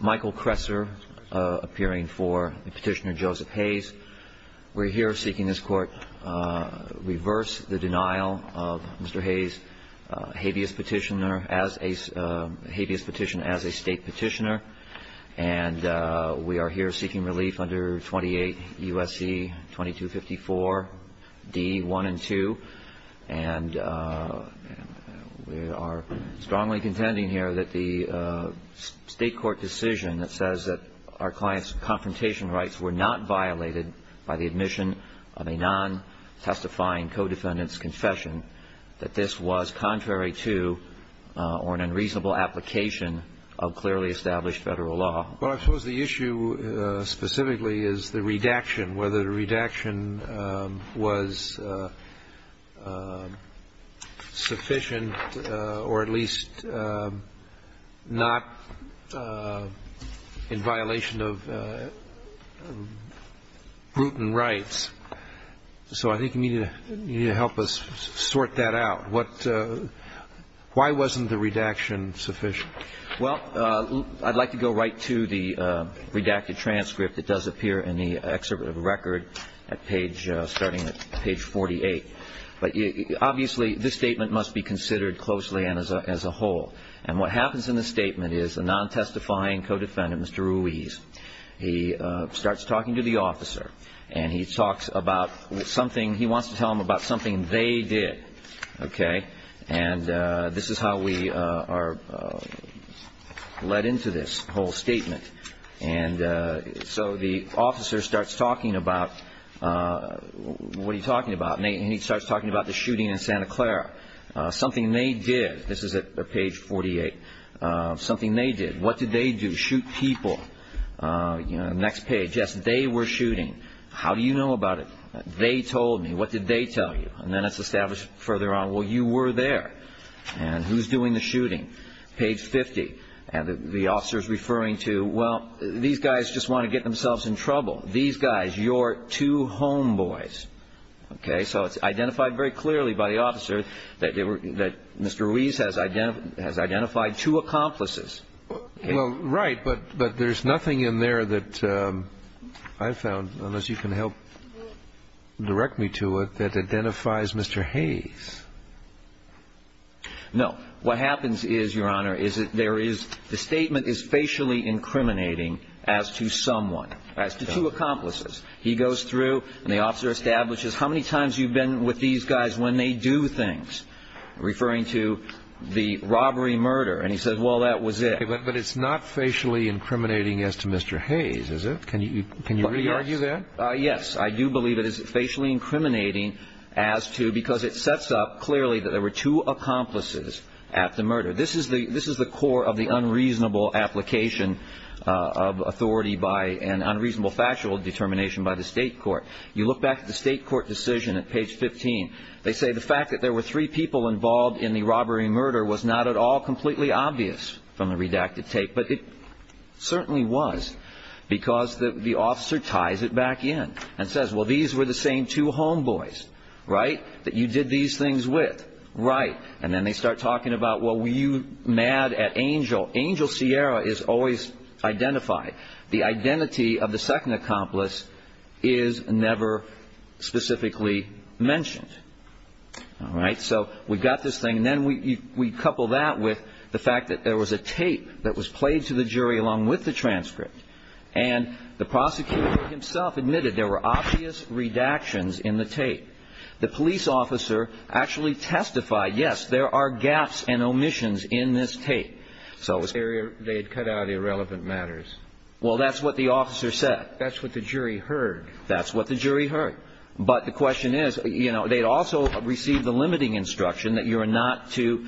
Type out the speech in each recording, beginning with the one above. Michael Kresser appearing for Petitioner Joseph Hayes. We're here seeking this court reverse the denial of Mr. Hayes' habeas petition as a state petitioner. And we are here seeking relief under 28 U.S.C. 2254 D. 1 and 2. And we are strongly contending here that the state court decision that says that our client's confrontation rights were not violated by the admission of a non-testifying co-defendant's confession, that this was contrary to or an unreasonable application of clearly established federal law. But I suppose the issue specifically is the redaction, whether the redaction was sufficient or at least not in violation of Bruton rights. So I think you need to help us sort that out. Why wasn't the redaction sufficient? Well, I'd like to go right to the redacted transcript that does appear in the excerpt of the record starting at page 48. But obviously this statement must be considered closely and as a whole. And what happens in the statement is a non-testifying co-defendant, Mr. Ruiz, he starts talking to the officer and he talks about something, he wants to tell him about something they did. Okay? And this is how we are led into this whole statement. And so the officer starts talking about, what are you talking about? And he starts talking about the shooting in Santa Clara. Something they did. This is at page 48. Something they did. What did they do? Shoot people. Next page. Yes, they were shooting. How do you know about it? They told me. What did they tell you? And then it's established further on, well, you were there. And who's doing the shooting? Page 50. And the officer is referring to, well, these guys just want to get themselves in trouble. These guys, your two homeboys. Okay? So it's identified very clearly by the officer that Mr. Ruiz has identified two accomplices. Well, right. But there's nothing in there that I found, unless you can help direct me to it, that identifies Mr. Hayes. No. What happens is, Your Honor, is that there is, the statement is facially incriminating as to someone, as to two accomplices. He goes through, and the officer establishes how many times you've been with these guys when they do things. Referring to the robbery murder. And he says, well, that was it. But it's not facially incriminating as to Mr. Hayes, is it? Can you re-argue that? Yes. I do believe it is facially incriminating as to, because it sets up clearly that there were two accomplices at the murder. This is the core of the unreasonable application of authority by an unreasonable factual determination by the state court. You look back at the state court decision at page 15. They say the fact that there were three people involved in the robbery murder was not at all completely obvious from the redacted tape. But it certainly was. Because the officer ties it back in and says, well, these were the same two homeboys, right? That you did these things with. Right. And then they start talking about, well, were you mad at Angel? Angel Sierra is always identified. The identity of the second accomplice is never specifically mentioned. All right. So we've got this thing. And then we couple that with the fact that there was a tape that was played to the jury along with the transcript. And the prosecutor himself admitted there were obvious redactions in the tape. The police officer actually testified, yes, there are gaps and omissions in this tape. So they had cut out irrelevant matters. Well, that's what the officer said. That's what the jury heard. That's what the jury heard. But the question is, you know, they'd also received the limiting instruction that you are not to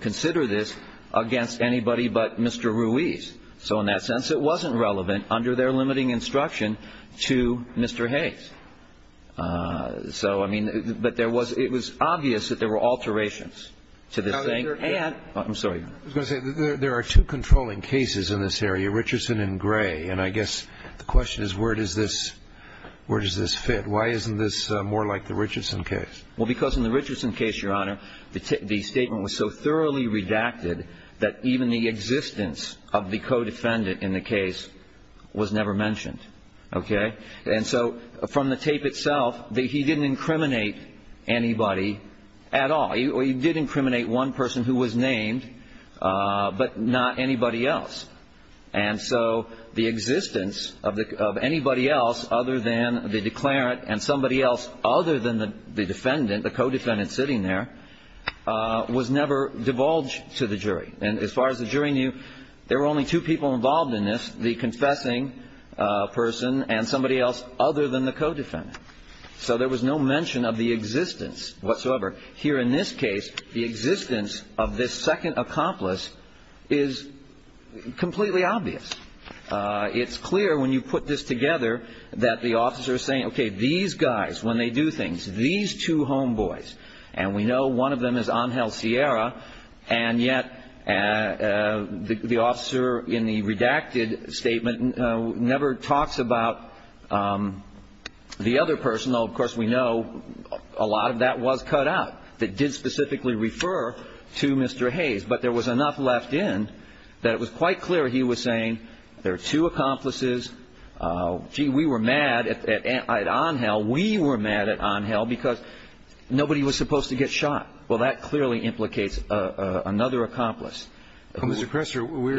consider this against anybody but Mr. Ruiz. So in that sense, it wasn't relevant under their limiting instruction to Mr. Hayes. So, I mean, but there was – it was obvious that there were alterations to this thing. And – I'm sorry. I was going to say, there are two controlling cases in this area, Richardson and Gray. And I guess the question is, where does this – where does this fit? Why isn't this more like the Richardson case? Well, because in the Richardson case, Your Honor, the statement was so thoroughly redacted that even the existence of the co-defendant in the case was never mentioned. Okay? And so from the tape itself, he didn't incriminate anybody at all. He did incriminate one person who was named, but not anybody else. And so the existence of anybody else other than the declarant and somebody else other than the defendant, the co-defendant sitting there, was never divulged to the jury. And as far as the jury knew, there were only two people involved in this, the confessing person and somebody else other than the co-defendant. So there was no mention of the existence whatsoever. Here in this case, the existence of this second accomplice is completely obvious. It's clear when you put this together that the officer is saying, okay, these guys, when they do things, these two homeboys, and we know one of them is Angel Sierra, and yet the officer in the redacted statement never talks about the other person, though of course we know a lot of that was cut out that did specifically refer to Mr. Hayes. But there was enough left in that it was quite clear he was saying there are two accomplices. Gee, we were mad at Angel. We were mad at Angel because nobody was supposed to get shot. Well, that clearly implicates another accomplice. It's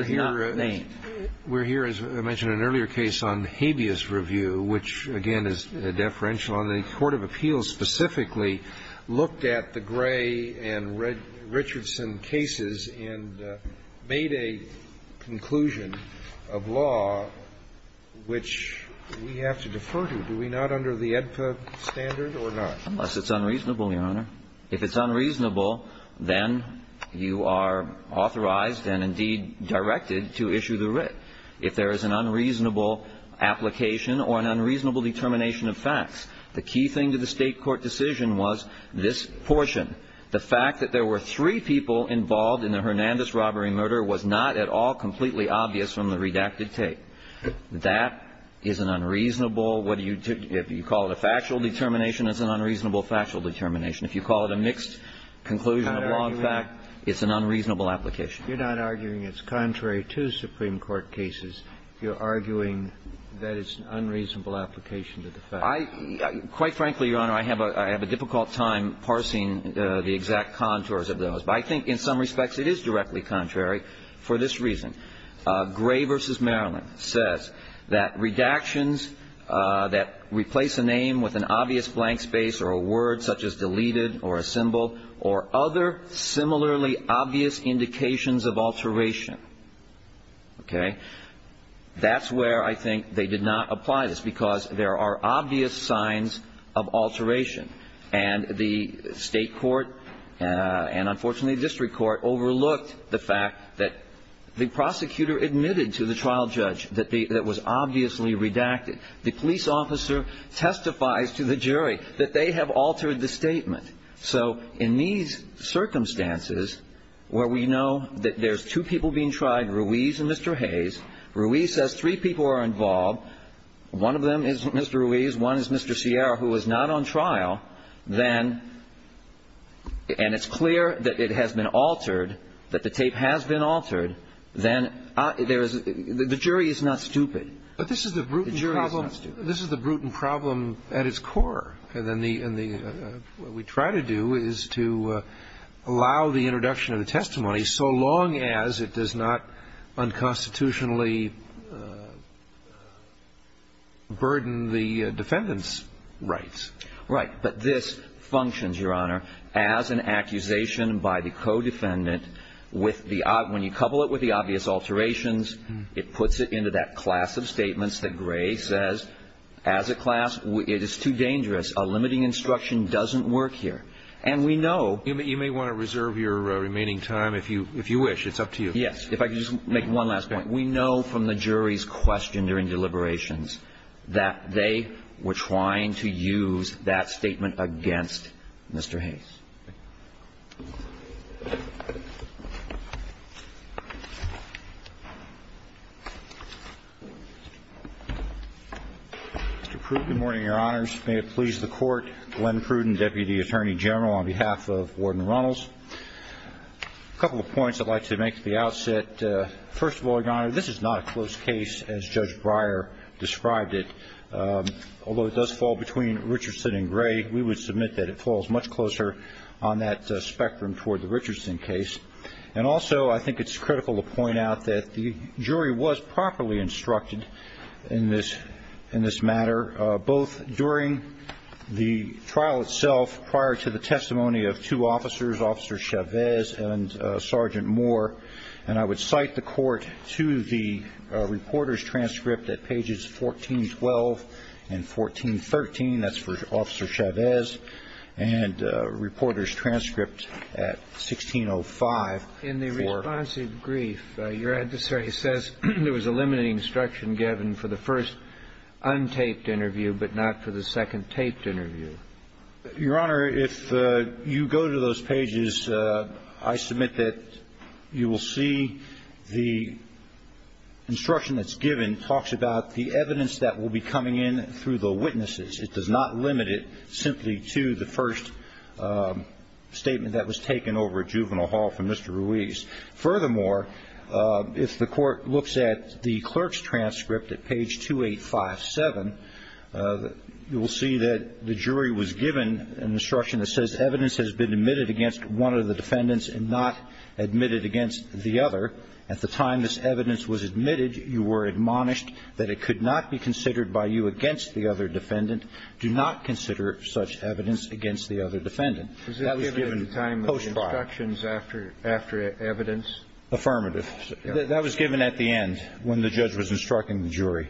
not named. We're here, as I mentioned in an earlier case on habeas review, which, again, is deferential. And I'm wondering if the Court of Appeals, on the Court of Appeals specifically, looked at the Gray and Richardson cases and made a conclusion of law which we have to defer to. Do we not under the AEDPA standard or not? Unless it's unreasonable, Your Honor. If it's unreasonable, then you are authorized and, indeed, directed to issue the writ. If there is an unreasonable application or an unreasonable determination of facts, the key thing to the State court decision was this portion. The fact that there were three people involved in the Hernandez robbery and murder was not at all completely obvious from the redacted tape. That is an unreasonable, if you call it a factual determination, it's an unreasonable factual determination. If you call it a mixed conclusion of law and fact, it's an unreasonable application. You're not arguing it's contrary to Supreme Court cases. You're arguing that it's an unreasonable application to the facts. Quite frankly, Your Honor, I have a difficult time parsing the exact contours of those. But I think in some respects it is directly contrary for this reason. Gray v. Maryland says that redactions that replace a name with an obvious blank space or a word such as deleted or assembled or other similarly obvious indications of alteration, okay, that's where I think they did not apply this because there are obvious signs of alteration. And the State court and, unfortunately, the district court overlooked the fact that the prosecutor admitted to the trial judge that was obviously redacted. The police officer testifies to the jury that they have altered the statement. So in these circumstances where we know that there's two people being tried, Ruiz and Mr. Hayes, Ruiz says three people are involved. One of them is Mr. Ruiz. One is Mr. Sierra, who was not on trial. Then – and it's clear that it has been altered, that the tape has been altered. Then there is – the jury is not stupid. But this is the brutal problem. The jury is not stupid. This is the brutal problem at its core. And then the – what we try to do is to allow the introduction of the testimony so long as it does not unconstitutionally burden the defendant's rights. Right. But this functions, Your Honor, as an accusation by the codefendant with the – with the defendant's rights. And we know from the jury's question during deliberations that they were trying to use that statement against Mr. Hayes. Okay. Mr. Pruden. Good morning, Your Honors. May it please the Court, Glenn Pruden, Deputy Attorney General, on behalf of Warden Runnels. A couple of points I'd like to make at the outset. First of all, Your Honor, this is not a close case as Judge Breyer described it. Although it does fall between Richardson and Gray, we would submit that it falls much closer on that spectrum toward the Richardson case. And also I think it's critical to point out that the jury was properly instructed in this matter, both during the trial itself prior to the testimony of two officers, Officer Chavez and Sergeant Moore. And I would cite the Court to the reporter's transcript at pages 1412 and 1413. That's for Officer Chavez. And reporter's transcript at 1605. In the responsive brief, your adversary says there was a limited instruction given for the first untaped interview, but not for the second taped interview. Your Honor, if you go to those pages, I submit that you will see the instruction that's given talks about the evidence that will be coming in through the witnesses. It does not limit it simply to the first statement that was taken over at Juvenile Hall from Mr. Ruiz. Furthermore, if the Court looks at the clerk's transcript at page 2857, you will see that the jury was given an instruction that says evidence has been admitted against one of the defendants and not admitted against the other. At the time this evidence was admitted, you were admonished that it could not be considered by you against the other defendant. Do not consider such evidence against the other defendant. That was given post-trial. Was it given at the time of the instructions after evidence? Affirmative. That was given at the end, when the judge was instructing the jury.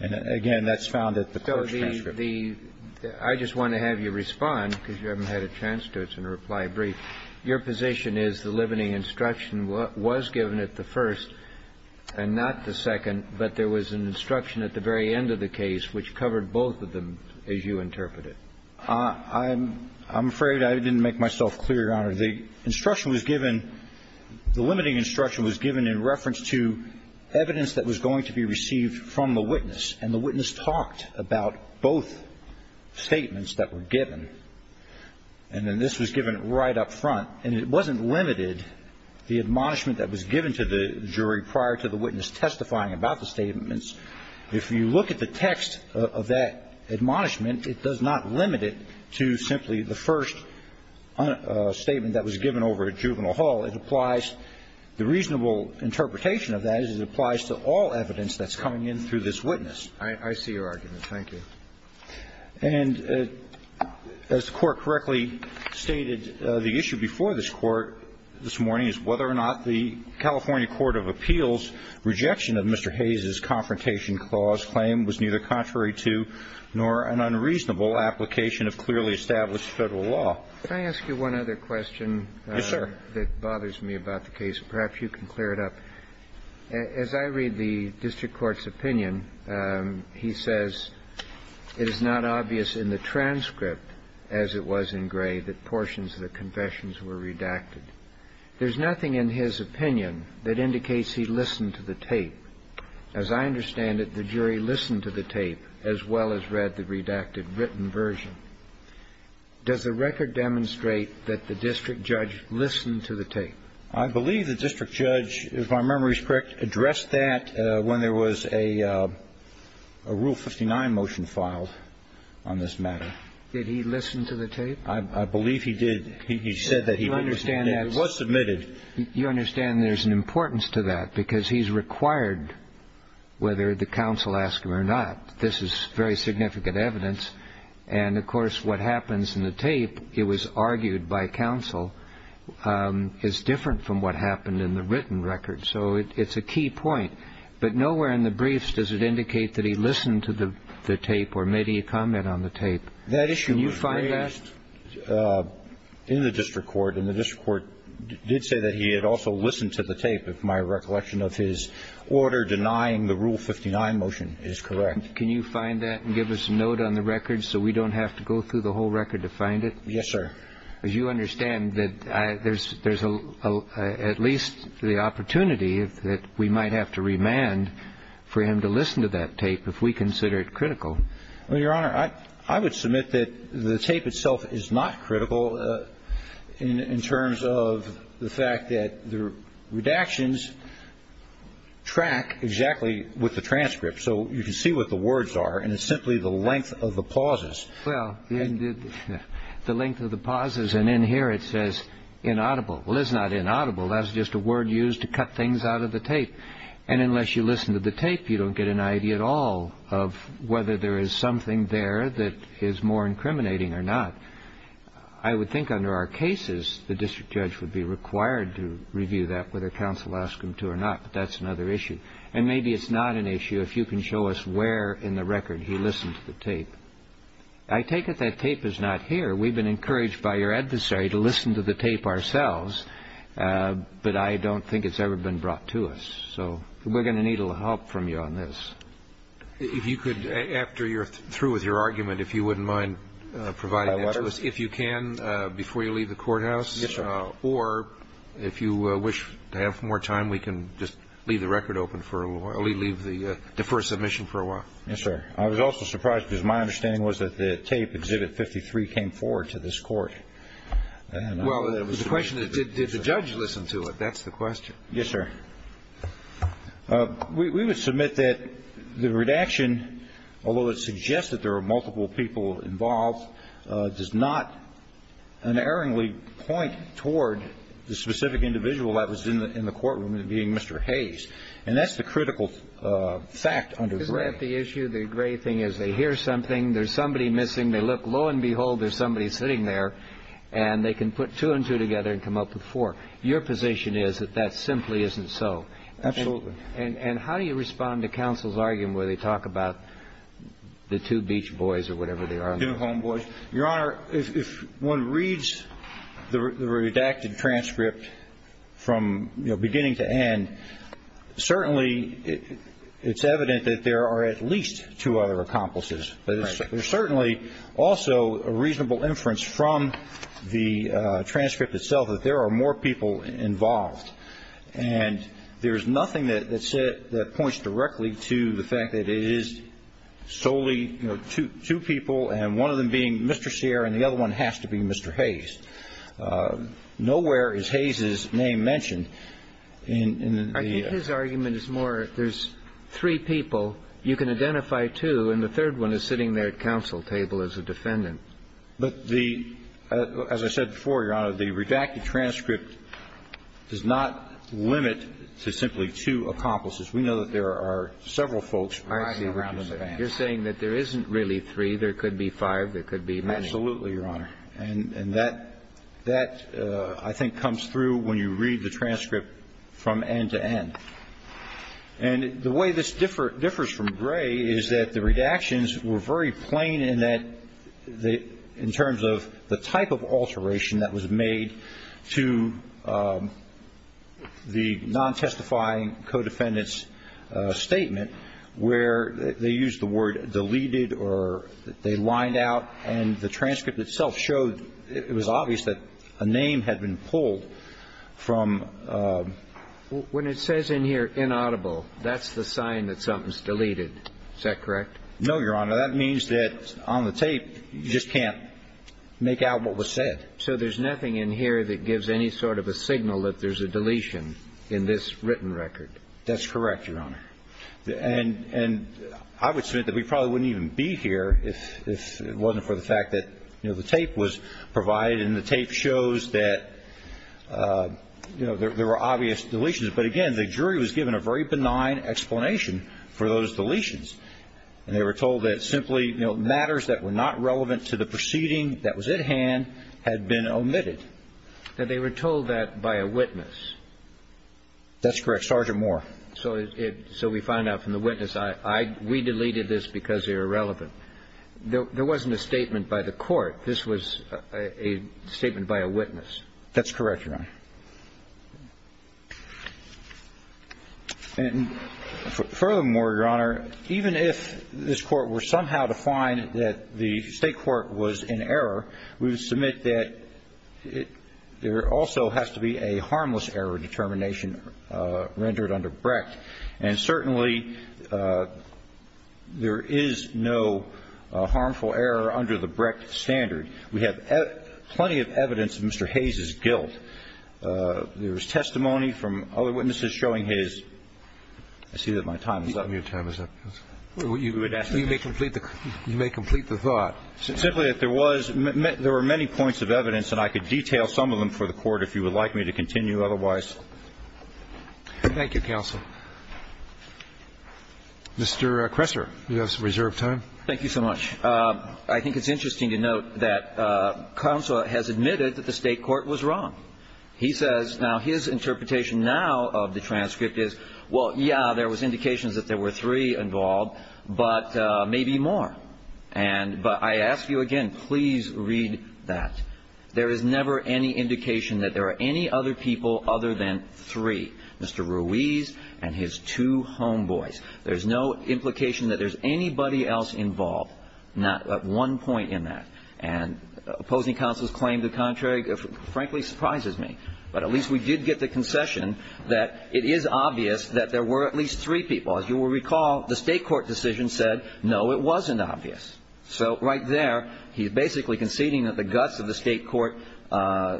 And again, that's found at the clerk's transcript. So the – I just want to have you respond, because you haven't had a chance to. It's in a reply brief. Your position is the limiting instruction was given at the first and not the second, but there was an instruction at the very end of the case which covered both of them, as you interpret it. I'm afraid I didn't make myself clear, Your Honor. The instruction was given – the limiting instruction was given in reference to evidence that was going to be received from the witness, and the witness talked about both statements that were given. And then this was given right up front. And it wasn't limited, the admonishment that was given to the jury prior to the witness testifying about the statements. If you look at the text of that admonishment, it does not limit it to simply the first statement that was given over at Juvenile Hall. It applies – the reasonable interpretation of that is it applies to all evidence that's coming in through this witness. I see your argument. Thank you. And as the Court correctly stated, the issue before this Court this morning is whether or not the California Court of Appeals' rejection of Mr. Hayes' Confrontation Clause claim was neither contrary to nor an unreasonable application of clearly established Federal law. Could I ask you one other question? Yes, sir. That bothers me about the case. Perhaps you can clear it up. As I read the district court's opinion, he says it is not obvious in the transcript, as it was in Gray, that portions of the confessions were redacted. There's nothing in his opinion that indicates he listened to the tape. As I understand it, the jury listened to the tape as well as read the redacted written version. Does the record demonstrate that the district judge listened to the tape? I believe the district judge, if my memory is correct, addressed that when there was a Rule 59 motion filed on this matter. Did he listen to the tape? I believe he did. He said that he did. You understand that. It was submitted. You understand there's an importance to that because he's required, whether the counsel asks him or not, this is very significant evidence. And, of course, what happens in the tape, it was argued by counsel, is different from what happened in the written record. So it's a key point. But nowhere in the briefs does it indicate that he listened to the tape or made a comment on the tape. That issue was raised in the district court, and the district court did say that he had also listened to the tape, if my recollection of his order denying the Rule 59 motion is correct. Can you find that and give us a note on the record so we don't have to go through the whole record to find it? Yes, sir. As you understand, there's at least the opportunity that we might have to remand for him to listen to that tape if we consider it critical. Well, Your Honor, I would submit that the tape itself is not critical in terms of the fact that the redactions track exactly with the transcript. So you can see what the words are, and it's simply the length of the pauses. Well, the length of the pauses, and in here it says inaudible. Well, it's not inaudible. That's just a word used to cut things out of the tape. And unless you listen to the tape, you don't get an idea at all of whether there is something there that is more incriminating or not. I would think under our cases the district judge would be required to review that, whether counsel asked him to or not, but that's another issue. And maybe it's not an issue if you can show us where in the record he listened to the tape. I take it that tape is not here. We've been encouraged by your adversary to listen to the tape ourselves, but I don't think it's ever been brought to us. So we're going to need a little help from you on this. If you could, after you're through with your argument, if you wouldn't mind providing that to us, if you can, before you leave the courthouse. Yes, sir. Or if you wish to have more time, we can just leave the record open for a little while, leave the deferred submission for a while. Yes, sir. I was also surprised because my understanding was that the tape, Exhibit 53, came forward to this court. Well, the question is, did the judge listen to it? That's the question. Yes, sir. We would submit that the redaction, although it suggests that there were multiple people involved, does not unerringly point toward the specific individual that was in the courtroom, being Mr. Hayes. And that's the critical fact under Gray. Isn't that the issue? The Gray thing is they hear something, there's somebody missing, they look. And lo and behold, there's somebody sitting there and they can put two and two together and come up with four. Your position is that that simply isn't so. Absolutely. And how do you respond to counsel's argument where they talk about the two beach boys or whatever they are? The two homeboys. Your Honor, if one reads the redacted transcript from, you know, beginning to end, certainly it's evident that there are at least two other accomplices. Right. There's certainly also a reasonable inference from the transcript itself that there are more people involved. And there is nothing that points directly to the fact that it is solely, you know, two people and one of them being Mr. Sierra and the other one has to be Mr. Hayes. Nowhere is Hayes's name mentioned. I think his argument is more there's three people, you can identify two, and the third one is sitting there at counsel table as a defendant. But the, as I said before, Your Honor, the redacted transcript does not limit to simply two accomplices. We know that there are several folks riding around in the van. You're saying that there isn't really three. There could be five. There could be many. Absolutely, Your Honor. And that, I think, comes through when you read the transcript from end to end. And the way this differs from Gray is that the redactions were very plain in that in terms of the type of alteration that was made to the non-testifying codefendant's statement where they used the word deleted or they lined out and the transcript itself showed it was obvious that a name had been pulled from. When it says in here inaudible, that's the sign that something's deleted. Is that correct? No, Your Honor. That means that on the tape you just can't make out what was said. So there's nothing in here that gives any sort of a signal that there's a deletion in this written record. That's correct, Your Honor. And I would submit that we probably wouldn't even be here if it wasn't for the fact that, you know, there were obvious deletions. But, again, the jury was given a very benign explanation for those deletions. And they were told that simply, you know, matters that were not relevant to the proceeding that was at hand had been omitted. Now, they were told that by a witness. That's correct. Sergeant Moore. So we find out from the witness, we deleted this because they were irrelevant. There wasn't a statement by the court. This was a statement by a witness. That's correct, Your Honor. And furthermore, Your Honor, even if this Court were somehow to find that the State court was in error, we would submit that there also has to be a harmless error determination rendered under Brecht. And certainly there is no harmful error under the Brecht standard. We have plenty of evidence of Mr. Hayes' guilt. There was testimony from other witnesses showing his ---- I see that my time is up. Your time is up. You may complete the thought. Simply that there was ---- there were many points of evidence, and I could detail some of them for the Court if you would like me to continue. Otherwise ---- Thank you, counsel. Mr. Kresser. Yes. Reserve time. Thank you so much. I think it's interesting to note that counsel has admitted that the State court was wrong. He says now his interpretation now of the transcript is, well, yeah, there was indications that there were three involved, but maybe more. But I ask you again, please read that. There is never any indication that there are any other people other than three, Mr. Ruiz and his two homeboys. There's no implication that there's anybody else involved, not at one point in that. And opposing counsel's claim to the contrary, frankly, surprises me. But at least we did get the concession that it is obvious that there were at least three people. As you will recall, the State court decision said, no, it wasn't obvious. So right there, he's basically conceding that the guts of the State court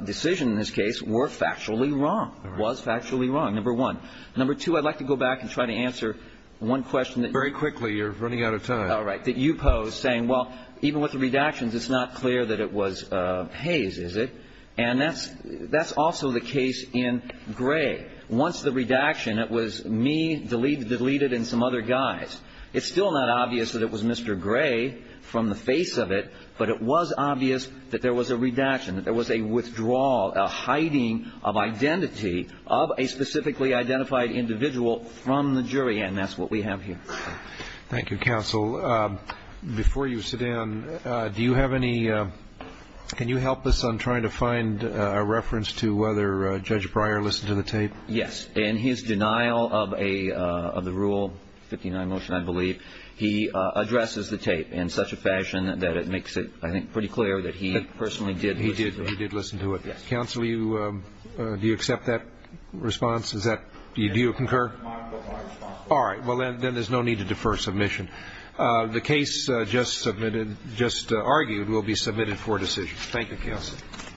decision in this case were factually wrong, was factually wrong, number one. Number two, I'd like to go back and try to answer one question that you posed. Very quickly. You're running out of time. All right. That you posed, saying, well, even with the redactions, it's not clear that it was Hayes, is it? And that's also the case in Gray. Once the redaction, it was me deleted and some other guys. It's still not obvious that it was Mr. Gray from the face of it, but it was obvious that there was a redaction, that there was a withdrawal, a hiding of identity of a specifically identified individual from the jury. And that's what we have here. Thank you, counsel. Before you sit down, do you have any ñ can you help us on trying to find a reference to whether Judge Breyer listened to the tape? Yes. In his denial of a ñ of the Rule 59 motion, I believe, he addresses the tape in such a fashion that it makes it, I think, pretty clear that he personally did listen to it. He did. Counsel, you ñ do you accept that response? Is that ñ do you concur? I concur. All right. Well, then there's no need to defer submission. The case just submitted ñ just argued will be submitted for decision. Thank you, counsel.